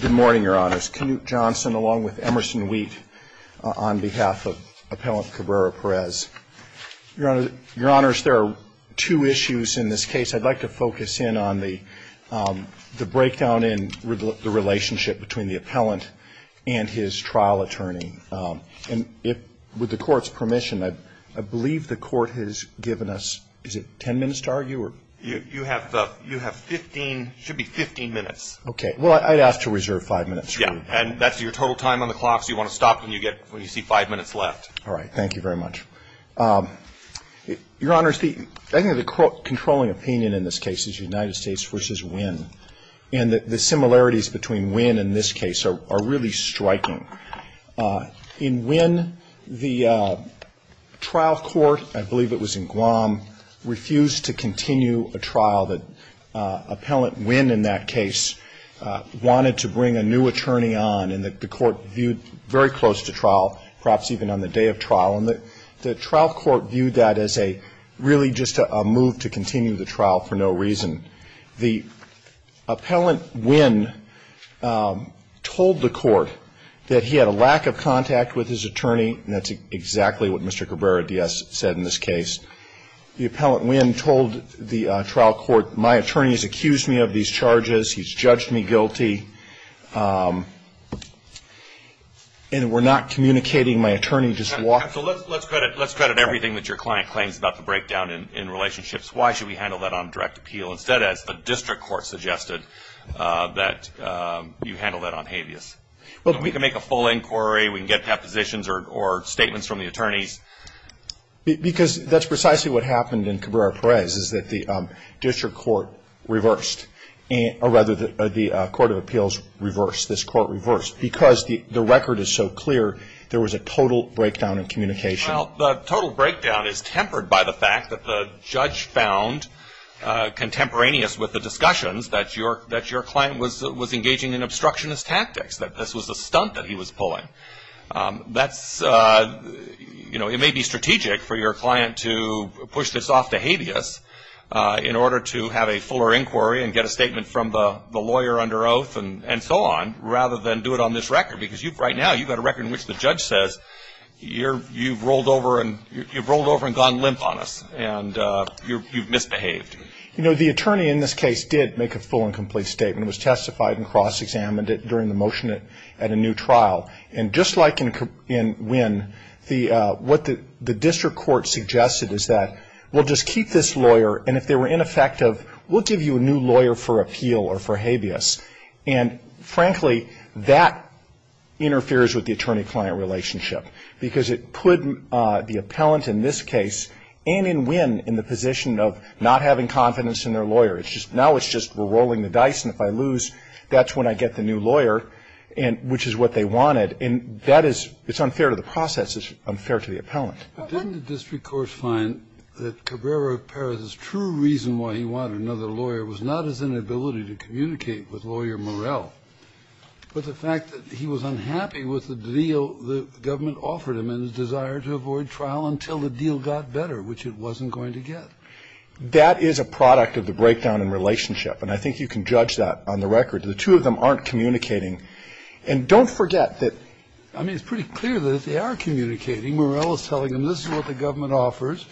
Good morning, Your Honors. Knute Johnson along with Emerson Wheat on behalf of Appellant Cabrera-Perez. Your Honors, there are two issues in this case. I'd like to focus in on the breakdown in the relationship between the appellant and his trial attorney. And with the Court's permission, I believe the Court has given us, is it 10 minutes to argue? You have 15, should be 15 minutes. Okay. Well, I'd ask to reserve 5 minutes. Yeah. And that's your total time on the clock, so you want to stop when you see 5 minutes left. All right. Thank you very much. Your Honors, I think the controlling opinion in this case is United States v. Winn. And the similarities between Winn and this case are really striking. In Winn, the trial court, I believe it was in Guam, refused to continue a trial that Appellant Winn in that case wanted to bring a new attorney on and that the Court viewed very close to trial, perhaps even on the day of trial. And the trial court viewed that as a really just a move to continue the trial for no reason. The Appellant Winn told the Court that he had a lack of contact with his attorney, and that's exactly what Mr. Cabrera-Diaz said in this case. The Appellant Winn told the trial court, my attorney has accused me of these charges, he's judged me guilty, and we're not communicating. My attorney just walked off. So let's credit everything that your client claims about the breakdown in relationships. Why should we handle that on direct appeal instead, as the district court suggested, that you handle that on habeas? We can make a full inquiry, we can get depositions or statements from the attorneys. Because that's precisely what happened in Cabrera-Perez, is that the district court reversed, or rather the court of appeals reversed, this court reversed, because the record is so clear there was a total breakdown in communication. Well, the total breakdown is tempered by the fact that the judge found contemporaneous with the discussions that your client was engaging in obstructionist tactics, that this was a stunt that he was pulling. That's, you know, it may be strategic for your client to push this off to habeas in order to have a fuller inquiry and get a statement from the lawyer under oath and so on, rather than do it on this record. Because you've, right now, you've got a record in which the judge says, you've rolled over and gone limp on us, and you've misbehaved. You know, the attorney in this case did make a full and complete statement. It was testified and cross-examined during the motion at a new trial. And just like in Wynn, what the district court suggested is that we'll just keep this lawyer, and if they were ineffective, we'll give you a new lawyer for appeal or for habeas. And, frankly, that interferes with the attorney-client relationship, because it put the appellant in this case and in Wynn in the position of not having confidence in their lawyer. It's just now it's just we're rolling the dice, and if I lose, that's when I get the new lawyer, which is what they wanted. And that is unfair to the process. It's unfair to the appellant. But didn't the district court find that Cabrera Perez's true reason why he wanted another lawyer was not his inability to communicate with lawyer Morell, but the fact that he was unhappy with the deal the government offered him and his desire to avoid trial until the deal got better, which it wasn't going to get? That is a product of the breakdown in relationship. And I think you can judge that on the record. The two of them aren't communicating. And don't forget that. I mean, it's pretty clear that they are communicating. Morell is telling them, this is what the government offers.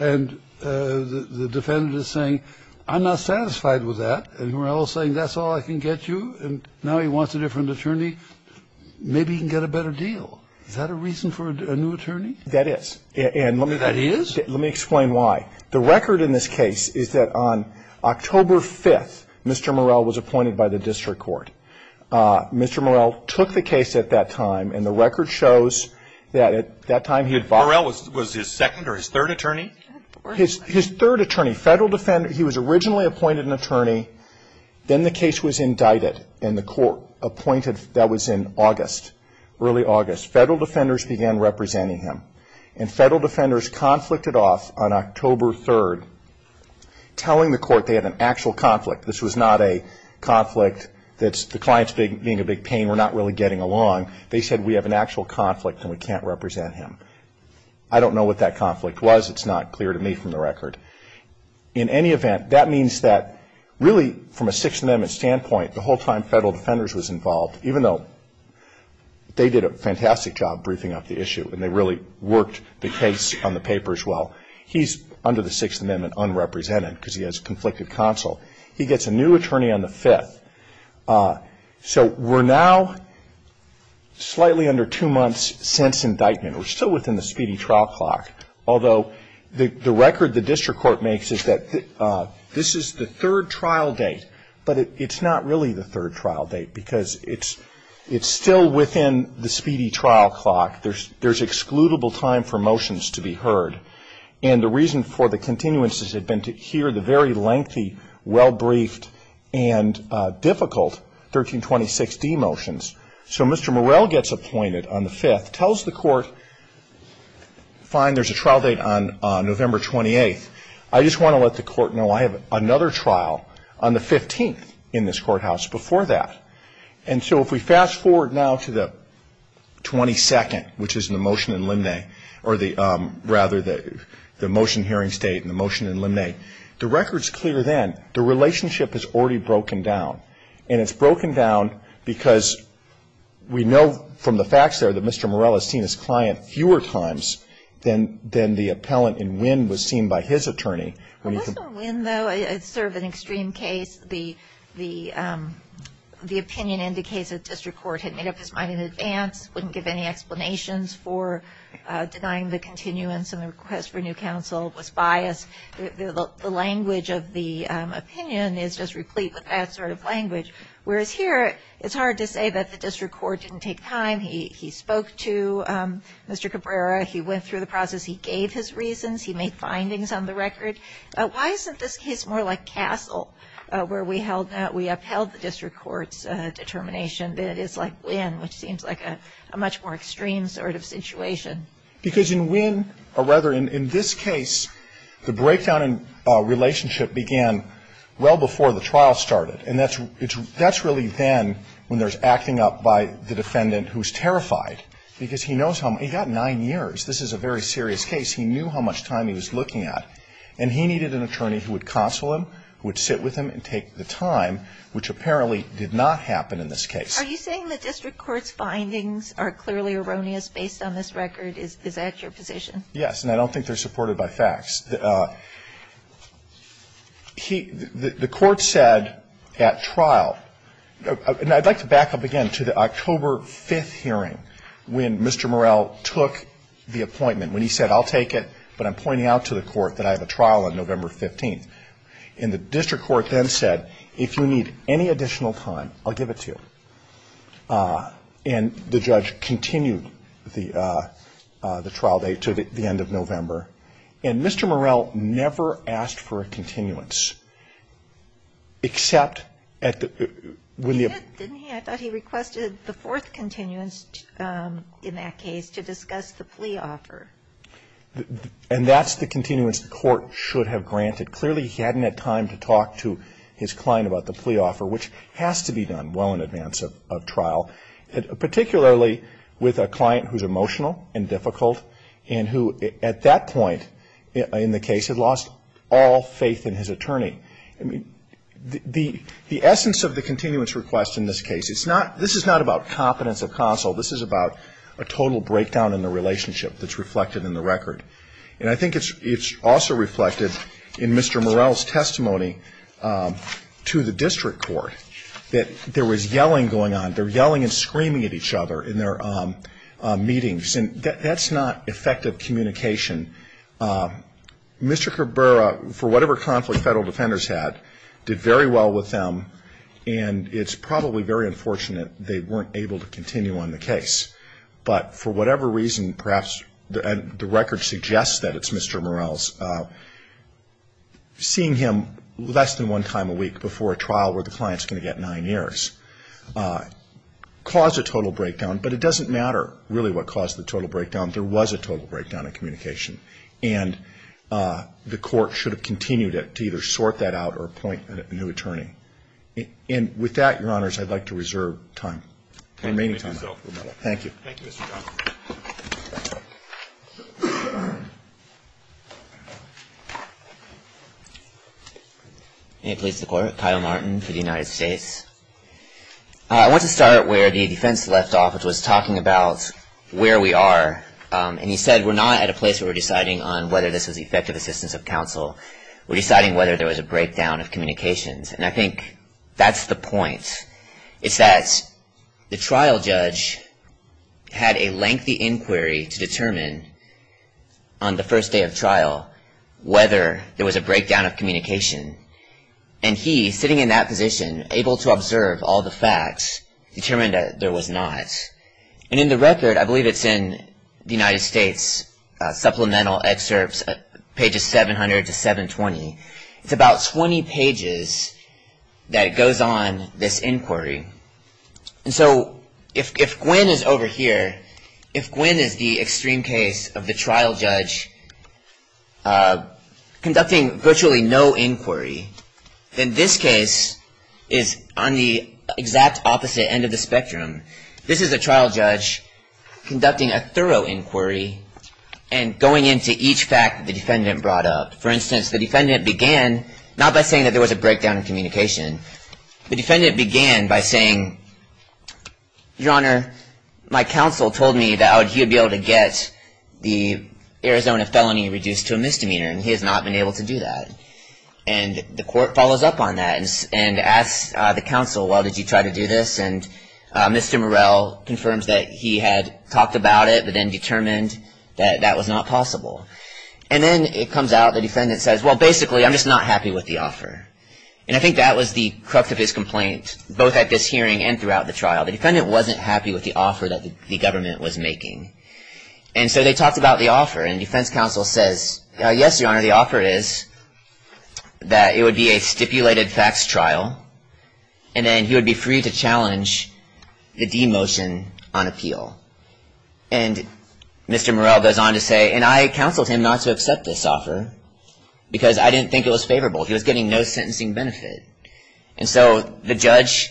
And the defendant is saying, I'm not satisfied with that. And Morell is saying, that's all I can get you. And now he wants a different attorney. Maybe he can get a better deal. Is that a reason for a new attorney? That is. That is? Let me explain why. The record in this case is that on October 5th, Mr. Morell was appointed by the district court. Mr. Morell took the case at that time. And the record shows that at that time he had filed. Morell was his second or his third attorney? His third attorney. Federal defender. He was originally appointed an attorney. Then the case was indicted. And the court appointed, that was in August, early August. Federal defenders began representing him. And federal defenders conflicted off on October 3rd, telling the court they had an actual conflict. This was not a conflict that the client is being a big pain. We're not really getting along. They said, we have an actual conflict and we can't represent him. I don't know what that conflict was. It's not clear to me from the record. In any event, that means that really from a six amendment standpoint, the whole time federal defenders was involved, even though they did a fantastic job briefing up the issue and they really worked the case on the paper as well, he's under the sixth amendment unrepresented because he has conflicted counsel. He gets a new attorney on the fifth. So we're now slightly under two months since indictment. We're still within the speedy trial clock, although the record the district court makes is that this is the third trial date. But it's not really the third trial date because it's still within the speedy trial clock. There's excludable time for motions to be heard. And the reason for the continuances had been to hear the very lengthy, well-briefed, and difficult 1326D motions. So Mr. Morell gets appointed on the fifth, tells the court, fine, there's a trial date on November 28th. I just want to let the court know I have another trial on the 15th in this courthouse before that. And so if we fast forward now to the 22nd, which is the motion in limine, or rather the motion hearing state and the motion in limine, the record's clear then. The relationship is already broken down. And it's broken down because we know from the facts there that Mr. Morell has seen his client fewer times than the It's sort of an extreme case. The opinion indicates that district court had made up its mind in advance, wouldn't give any explanations for denying the continuance and the request for new counsel was biased. The language of the opinion is just replete with that sort of language. Whereas here, it's hard to say that the district court didn't take time. He spoke to Mr. Cabrera. He went through the process. He gave his reasons. He made findings on the record. Why isn't this case more like Castle, where we upheld the district court's determination, than it is like Wynn, which seems like a much more extreme sort of situation? Because in Wynn, or rather in this case, the breakdown in relationship began well before the trial started. And that's really then when there's acting up by the defendant who's terrified, because he knows how much he's got nine years. This is a very serious case. He knew how much time he was looking at. And he needed an attorney who would counsel him, who would sit with him and take the time, which apparently did not happen in this case. Are you saying the district court's findings are clearly erroneous based on this record? Is that your position? Yes. And I don't think they're supported by facts. The court said at trial, and I'd like to back up again to the October 5th hearing when Mr. Morell took the appointment, when he said, I'll take it, but I'm pointing out to the court that I have a trial on November 15th. And the district court then said, if you need any additional time, I'll give it to you. And the judge continued the trial date to the end of November. And Mr. Morell never asked for a continuance, except at the – when the – Didn't he? I thought he requested the fourth continuance in that case to discuss the plea offer. And that's the continuance the court should have granted. Clearly, he hadn't had time to talk to his client about the plea offer, which has to be done well in advance of trial, particularly with a client who's emotional and difficult and who, at that point in the case, had lost all faith in his attorney. The essence of the continuance request in this case, it's not – this is not about competence of counsel. This is about a total breakdown in the relationship that's reflected in the record. And I think it's also reflected in Mr. Morell's testimony to the district court that there was yelling going on. They're yelling and screaming at each other in their meetings. And that's not effective communication. Mr. Cabrera, for whatever conflict federal defenders had, did very well with them, and it's probably very unfortunate they weren't able to continue on the case. But for whatever reason, perhaps the record suggests that it's Mr. Morell's, seeing him less than one time a week before a trial where the client's going to get nine years caused a total breakdown. But it doesn't matter, really, what caused the total breakdown. There was a total breakdown in communication, and the court should have continued to either sort that out or appoint a new attorney. And with that, Your Honors, I'd like to reserve time. Remaining time. Thank you. Thank you, Mr. Johnson. May it please the Court. Kyle Martin for the United States. I want to start where the defense left off, which was talking about where we are. And he said we're not at a place where we're deciding on whether this was effective assistance of counsel. We're deciding whether there was a breakdown of communications. And I think that's the point. It's that the trial judge had a lengthy inquiry to determine on the first day of trial whether there was a breakdown of communication. And he, sitting in that position, able to observe all the facts, determined that there was not. And in the record, I believe it's in the United States, supplemental excerpts, pages 700 to 720, it's about 20 pages that it goes on, this inquiry. And so if Gwyn is over here, if Gwyn is the extreme case of the trial judge conducting virtually no inquiry, then this case is on the exact opposite end of the spectrum. This is a trial judge conducting a thorough inquiry and going into each fact the defendant brought up. For instance, the defendant began not by saying that there was a breakdown of communication. The defendant began by saying, Your Honor, my counsel told me that he would be able to get the Arizona felony reduced to a misdemeanor, and he has not been able to do that. And the court follows up on that and asks the counsel, well, did you try to do this? And Mr. Murrell confirms that he had talked about it but then determined that that was not possible. And then it comes out, the defendant says, well, basically, I'm just not happy with the offer. And I think that was the crux of his complaint, both at this hearing and throughout the trial. The defendant wasn't happy with the offer that the government was making. And so they talked about the offer. And defense counsel says, yes, Your Honor, the offer is that it would be a stipulated facts trial, and then he would be free to challenge the demotion on appeal. And Mr. Murrell goes on to say, and I counseled him not to accept this offer because I didn't think it was favorable. He was getting no sentencing benefit. And so the judge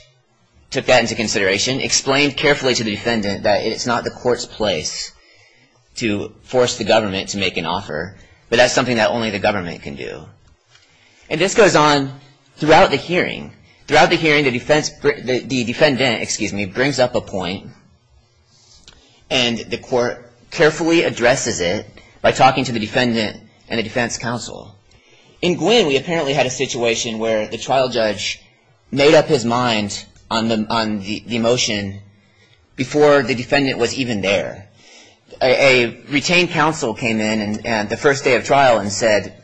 took that into consideration, explained carefully to the defendant that it's not the court's place to force the government to make an offer, but that's something that only the government can do. And this goes on throughout the hearing. Throughout the hearing, the defendant brings up a point, and the court carefully addresses it by talking to the defendant and the defense counsel. In Gwin, we apparently had a situation where the trial judge made up his mind on the motion before the defendant was even there. A retained counsel came in the first day of trial and said,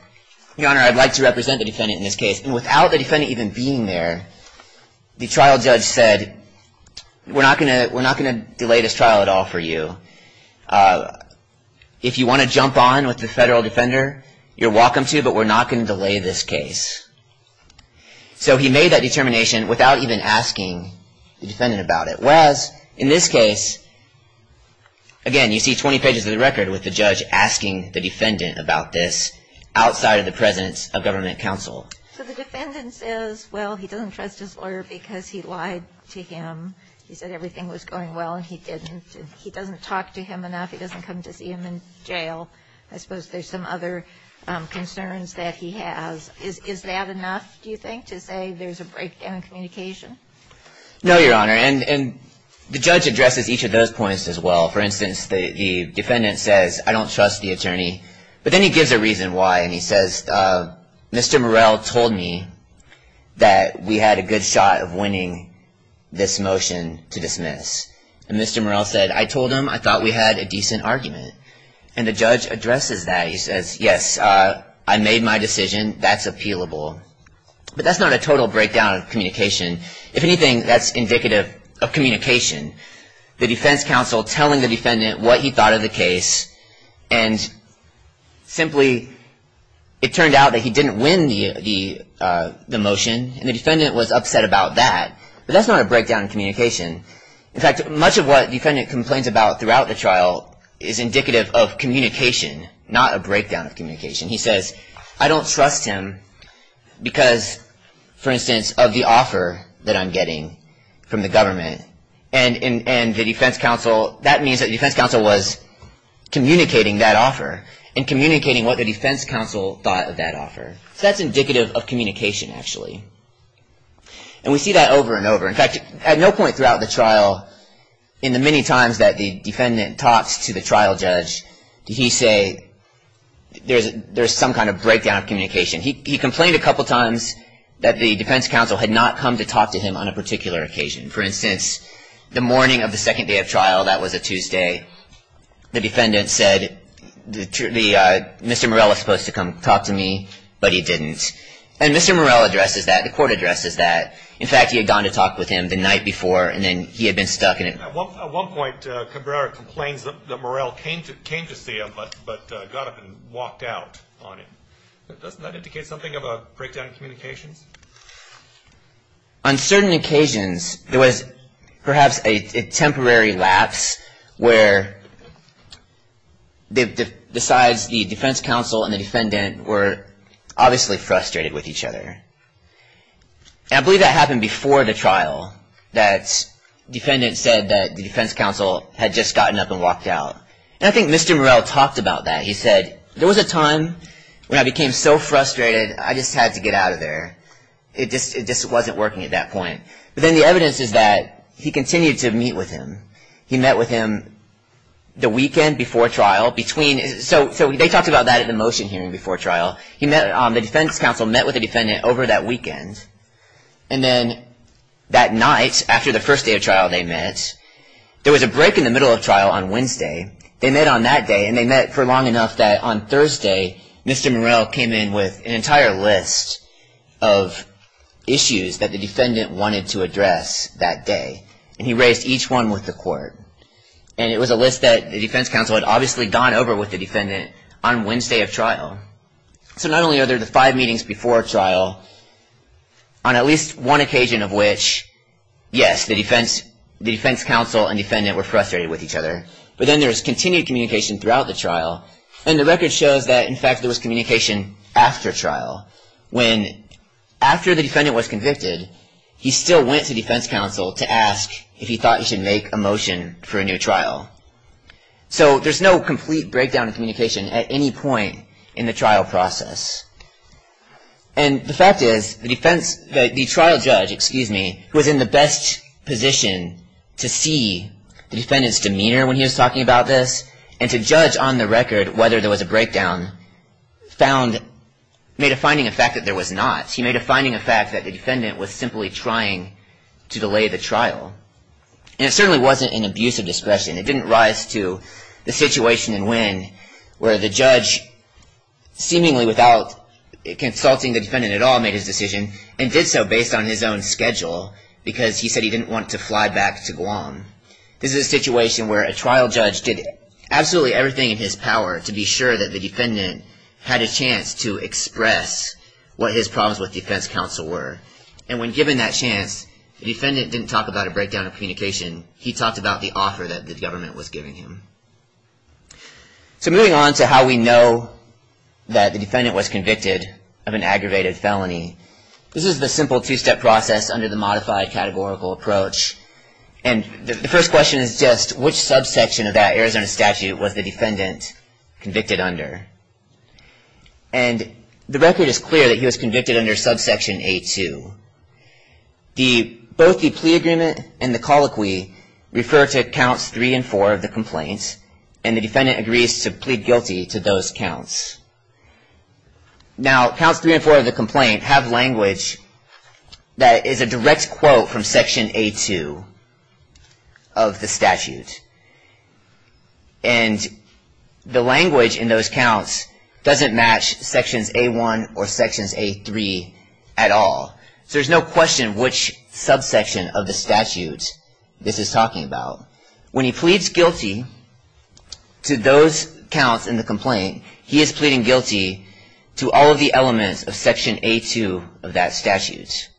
Your Honor, I'd like to represent the defendant in this case. And without the defendant even being there, the trial judge said, we're not going to delay this trial at all for you. If you want to jump on with the federal defender, you're welcome to, but we're not going to delay this case. So he made that determination without even asking the defendant about it. Whereas in this case, again, you see 20 pages of the record with the judge asking the defendant about this outside of the presence of government counsel. So the defendant says, well, he doesn't trust his lawyer because he lied to him. He said everything was going well, and he didn't. He didn't talk to him enough. He doesn't come to see him in jail. I suppose there's some other concerns that he has. Is that enough, do you think, to say there's a breakdown in communication? No, Your Honor, and the judge addresses each of those points as well. For instance, the defendant says, I don't trust the attorney, but then he gives a reason why, and he says, Mr. Morell told me that we had a good shot of winning this motion to dismiss. And Mr. Morell said, I told him I thought we had a decent argument. And the judge addresses that. He says, yes, I made my decision. That's appealable. But that's not a total breakdown of communication. If anything, that's indicative of communication. The defense counsel telling the defendant what he thought of the case, and simply it turned out that he didn't win the motion and the defendant was upset about that. But that's not a breakdown in communication. In fact, much of what the defendant complains about throughout the trial is indicative of communication, not a breakdown of communication. He says, I don't trust him because, for instance, of the offer that I'm getting from the government. And the defense counsel, that means that the defense counsel was communicating that offer and communicating what the defense counsel thought of that offer. So that's indicative of communication, actually. And we see that over and over. In fact, at no point throughout the trial, in the many times that the defendant talks to the trial judge, did he say there's some kind of breakdown of communication. He complained a couple times that the defense counsel had not come to talk to him on a particular occasion. For instance, the morning of the second day of trial, that was a Tuesday, the defendant said Mr. Morell was supposed to come talk to me, but he didn't. And Mr. Morell addresses that. The court addresses that. In fact, he had gone to talk with him the night before, and then he had been stuck. At one point, Cabrera complains that Morell came to see him, but got up and walked out on him. Doesn't that indicate something of a breakdown in communications? On certain occasions, there was perhaps a temporary lapse where besides the defense counsel and the defendant were obviously frustrated with each other. And I believe that happened before the trial. That defendant said that the defense counsel had just gotten up and walked out. And I think Mr. Morell talked about that. He said, there was a time when I became so frustrated, I just had to get out of there. It just wasn't working at that point. But then the evidence is that he continued to meet with him. He met with him the weekend before trial. So they talked about that at the motion hearing before trial. The defense counsel met with the defendant over that weekend. And then that night, after the first day of trial they met, there was a break in the middle of trial on Wednesday. They met on that day, and they met for long enough that on Thursday, Mr. Morell came in with an entire list of issues that the defendant wanted to address that day. And he raised each one with the court. And it was a list that the defense counsel had obviously gone over with the defendant on Wednesday of trial. So not only are there the five meetings before trial, on at least one occasion of which, yes, the defense counsel and defendant were frustrated with each other, but then there was continued communication throughout the trial. And the record shows that, in fact, there was communication after trial. When, after the defendant was convicted, he still went to defense counsel to ask if he thought he should make a motion for a new trial. So there's no complete breakdown of communication at any point in the trial process. And the fact is, the trial judge was in the best position to see the defendant's demeanor when he was talking about this, and to judge on the record whether there was a breakdown made a finding of fact that there was not. He made a finding of fact that the defendant was simply trying to delay the trial. And it certainly wasn't an abuse of discretion. It didn't rise to the situation in Nguyen where the judge, seemingly without consulting the defendant at all, made his decision and did so based on his own schedule because he said he didn't want to fly back to Guam. This is a situation where a trial judge did absolutely everything in his power to be sure that the defendant had a chance to express what his problems with defense counsel were. And when given that chance, the defendant didn't talk about a breakdown of communication. He talked about the offer that the government was giving him. So moving on to how we know that the defendant was convicted of an aggravated felony, this is the simple two-step process under the modified categorical approach. And the first question is just which subsection of that Arizona statute was the defendant convicted under? And the record is clear that he was convicted under subsection A2. Both the plea agreement and the colloquy refer to counts three and four of the complaint, and the defendant agrees to plead guilty to those counts. Now, counts three and four of the complaint have language that is a direct quote from section A2 of the statute. And the language in those counts doesn't match sections A1 or sections A3 at all. So there's no question which subsection of the statute this is talking about. When he pleads guilty to those counts in the complaint, he is pleading guilty to all of the elements of section A2 of that statute.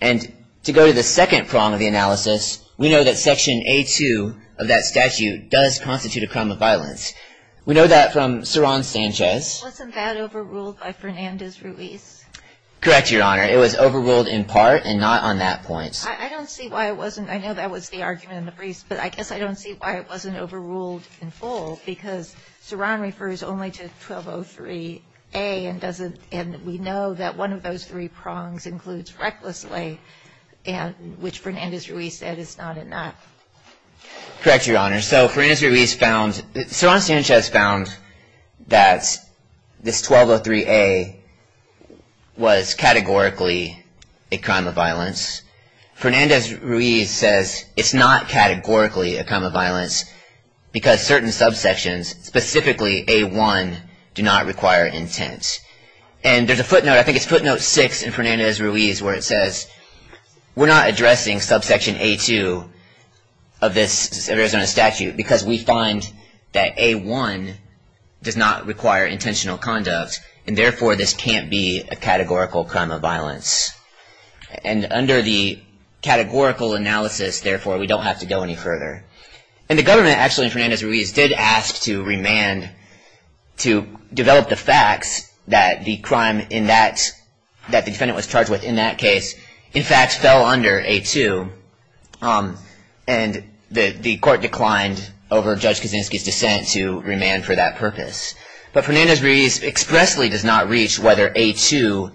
And to go to the second prong of the analysis, we know that section A2 of that statute does constitute a crime of violence. We know that from Saron Sanchez. Wasn't that overruled by Fernandez Ruiz? Correct, Your Honor. It was overruled in part and not on that point. I don't see why it wasn't. I know that was the argument in the briefs, but I guess I don't see why it wasn't overruled in full, because Saron refers only to 1203A and doesn't – and we know that one of those three prongs includes recklessly, which Fernandez Ruiz said is not enough. Correct, Your Honor. So Fernandez Ruiz found – Saron Sanchez found that this 1203A was categorically a crime of violence. Fernandez Ruiz says it's not categorically a crime of violence because certain subsections, specifically A1, do not require intent. And there's a footnote – I think it's footnote 6 in Fernandez Ruiz where it says we're not addressing subsection A2 of this Arizona statute because we find that A1 does not require intentional conduct and therefore this can't be a categorical crime of violence. And under the categorical analysis, therefore, we don't have to go any further. And the government actually in Fernandez Ruiz did ask to remand to develop the facts that the crime in that – that the defendant was charged with in that case, in fact, fell under A2. And the court declined over Judge Kaczynski's dissent to remand for that purpose. But Fernandez Ruiz expressly does not reach whether A2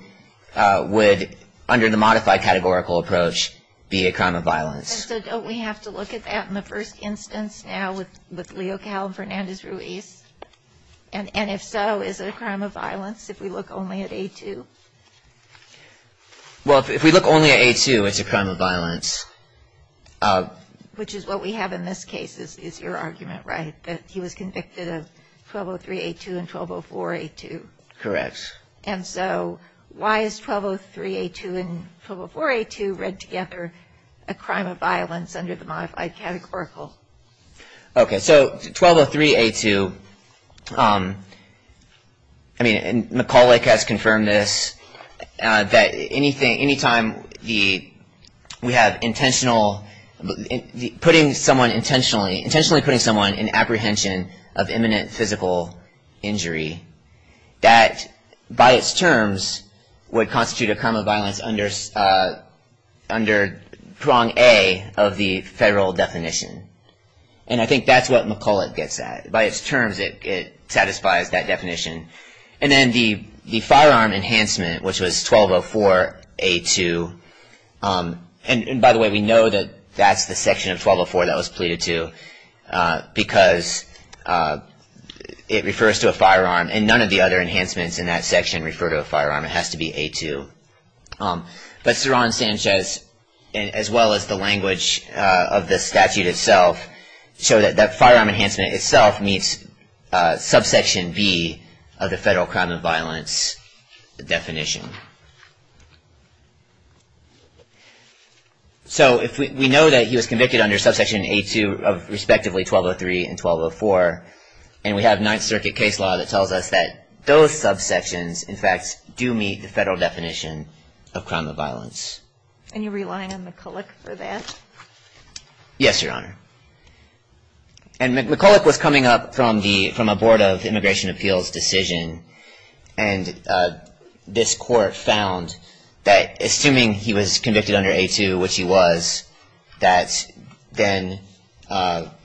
would, under the modified categorical approach, be a crime of violence. And so don't we have to look at that in the first instance now with Leo Cowell and Fernandez Ruiz? And if so, is it a crime of violence if we look only at A2? Well, if we look only at A2, it's a crime of violence. Which is what we have in this case, is your argument, right, that he was convicted of 1203-A2 and 1204-A2? Correct. And so why is 1203-A2 and 1204-A2 read together a crime of violence under the modified categorical? Okay, so 1203-A2 – I mean, McCulloch has confirmed this, that any time we have intentional – putting someone intentionally – intentionally putting someone in apprehension of imminent physical injury, that by its terms would constitute a crime of violence under prong A of the federal definition. And I think that's what McCulloch gets at. By its terms, it satisfies that definition. And then the firearm enhancement, which was 1204-A2 – and by the way, we know that that's the section of 1204 that was pleaded to because it refers to a firearm and none of the other enhancements in that section refer to a firearm. It has to be A2. But Cerron-Sanchez, as well as the language of the statute itself, show that that firearm enhancement itself meets subsection B of the federal crime of violence definition. So if we know that he was convicted under subsection A2 of respectively 1203 and 1204, and we have Ninth Circuit case law that tells us that those subsections, in fact, do meet the federal definition of crime of violence. And you're relying on McCulloch for that? Yes, Your Honor. And McCulloch was coming up from a Board of Immigration Appeals decision, and this court found that assuming he was convicted under A2, which he was, that then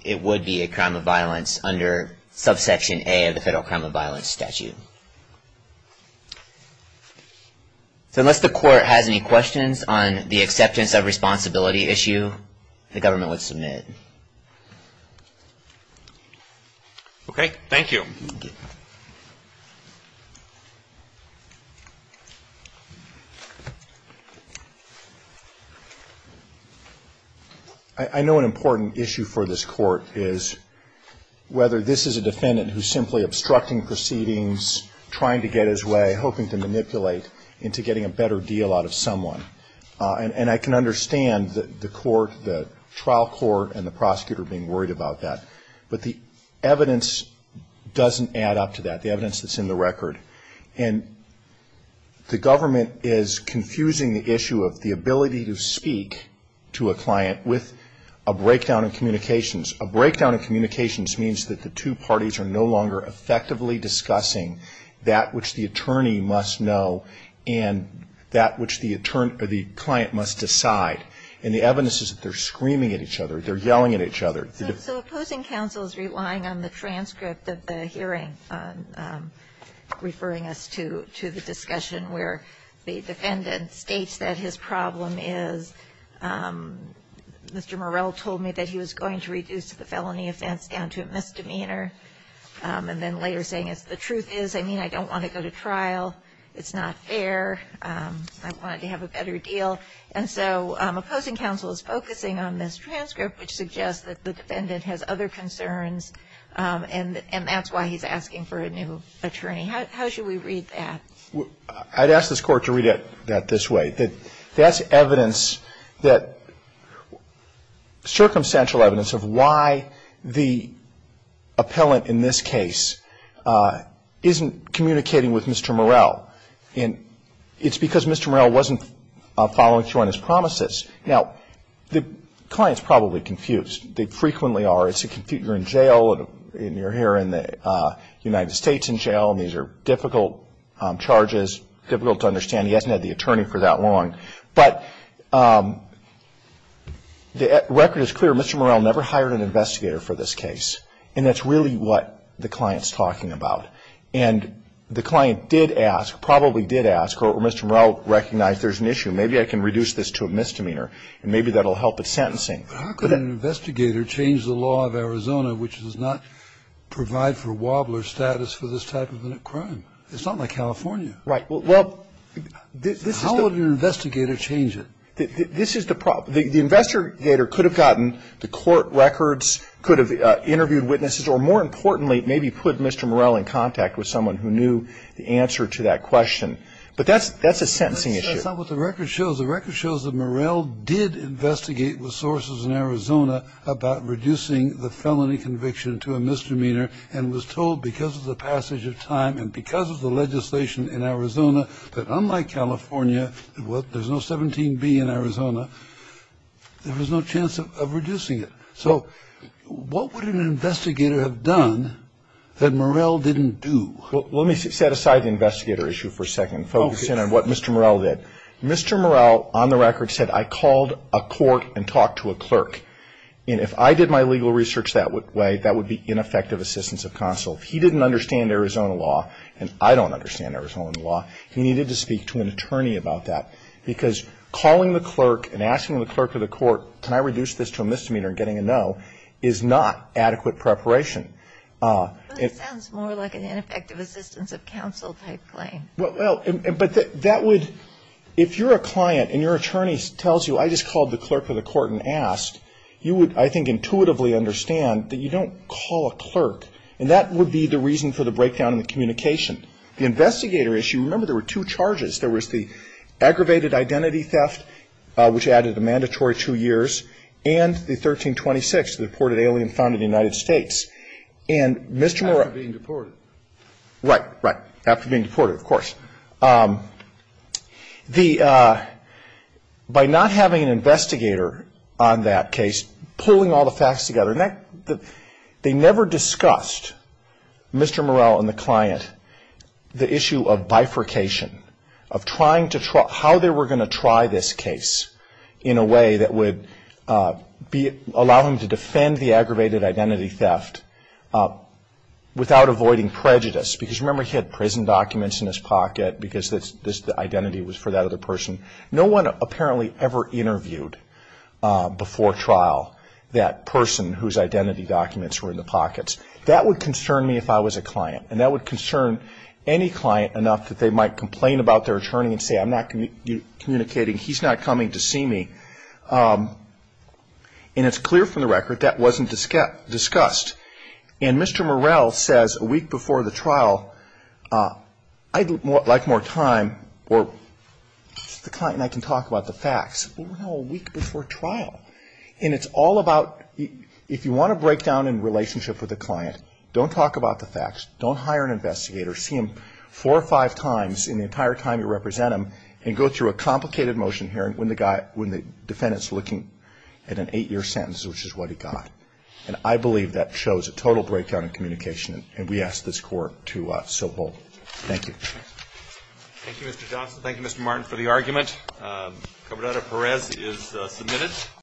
it would be a crime of violence under subsection A of the federal crime of violence statute. So unless the court has any questions on the acceptance of responsibility issue, the government would submit. Okay. Thank you. I know an important issue for this Court is whether this is a defendant who's simply obstructing proceedings, trying to get his way, hoping to manipulate into getting a better deal out of someone. And I can understand the trial court and the prosecutor being worried about that. But the evidence doesn't add up to that, the evidence that's in the record. And the government is confusing the issue of the ability to speak to a client with a breakdown in communications. A breakdown in communications means that the two parties are no longer effectively that which the attorney must know and that which the client must decide. And the evidence is that they're screaming at each other, they're yelling at each other. So opposing counsel is relying on the transcript of the hearing, referring us to the discussion where the defendant states that his problem is, Mr. Morell told me that he was going to reduce the felony offense down to a misdemeanor and then later saying the truth is, I mean, I don't want to go to trial. It's not fair. I want to have a better deal. And so opposing counsel is focusing on this transcript, which suggests that the defendant has other concerns, and that's why he's asking for a new attorney. How should we read that? I'd ask this Court to read it this way. That's evidence that, circumstantial evidence of why the appellant in this case isn't communicating with Mr. Morell. And it's because Mr. Morell wasn't following through on his promises. Now, the client's probably confused. They frequently are. It's a confusion. You're in jail, and you're here in the United States in jail, and these are difficult charges, difficult to understand. He hasn't had the attorney for that long. But the record is clear. Mr. Morell never hired an investigator for this case, and that's really what the client's talking about. And the client did ask, probably did ask, or Mr. Morell recognized there's an issue. Maybe I can reduce this to a misdemeanor, and maybe that will help with sentencing. But how could an investigator change the law of Arizona, which does not provide for wobbler status for this type of a crime? It's not like California. Right. How would an investigator change it? This is the problem. The investigator could have gotten the court records, could have interviewed witnesses, or more importantly, maybe put Mr. Morell in contact with someone who knew the answer to that question. But that's a sentencing issue. That's not what the record shows. The record shows that Morell did investigate with sources in Arizona about reducing the felony conviction to a misdemeanor and was told because of the passage of time and because of the legislation in Arizona that unlike California, there's no 17B in Arizona, there was no chance of reducing it. So what would an investigator have done that Morell didn't do? Well, let me set aside the investigator issue for a second and focus in on what Mr. Morell did. Mr. Morell, on the record, said, I called a court and talked to a clerk. And if I did my legal research that way, that would be ineffective assistance of counsel. If he didn't understand Arizona law, and I don't understand Arizona law, he needed to speak to an attorney about that. Because calling the clerk and asking the clerk of the court, can I reduce this to a misdemeanor and getting a no, is not adequate preparation. But it sounds more like an ineffective assistance of counsel type claim. Well, but that would, if you're a client and your attorney tells you, I just called the clerk of the court and asked, you would, I think, intuitively understand that you don't call a clerk. And that would be the reason for the breakdown in the communication. The investigator issue, remember there were two charges. There was the aggravated identity theft, which added a mandatory two years, and the 1326, the deported alien found in the United States. And Mr. Morell ---- After being deported. Right, right. After being deported, of course. The by not having an investigator on that case, pulling all the facts together They never discussed, Mr. Morell and the client, the issue of bifurcation, of trying to, how they were going to try this case in a way that would allow him to defend the aggravated identity theft without avoiding prejudice. Because remember, he had prison documents in his pocket, because the identity was for that other person. No one apparently ever interviewed before trial that person whose identity documents were in the pockets. That would concern me if I was a client. And that would concern any client enough that they might complain about their attorney and say I'm not communicating, he's not coming to see me. And it's clear from the record that wasn't discussed. And Mr. Morell says a week before the trial, I'd like more time, or the client and I can talk about the facts. Well, a week before trial. And it's all about, if you want a breakdown in relationship with a client, don't talk about the facts, don't hire an investigator, see him four or five times in the entire time you represent him, and go through a complicated motion hearing when the defendant's looking at an eight-year sentence, which is what he got. And I believe that shows a total breakdown in communication, and we ask this Court to so bold. Thank you. Thank you, Mr. Johnson. Thank you, Mr. Martin, for the argument. Cabrera-Perez is submitted.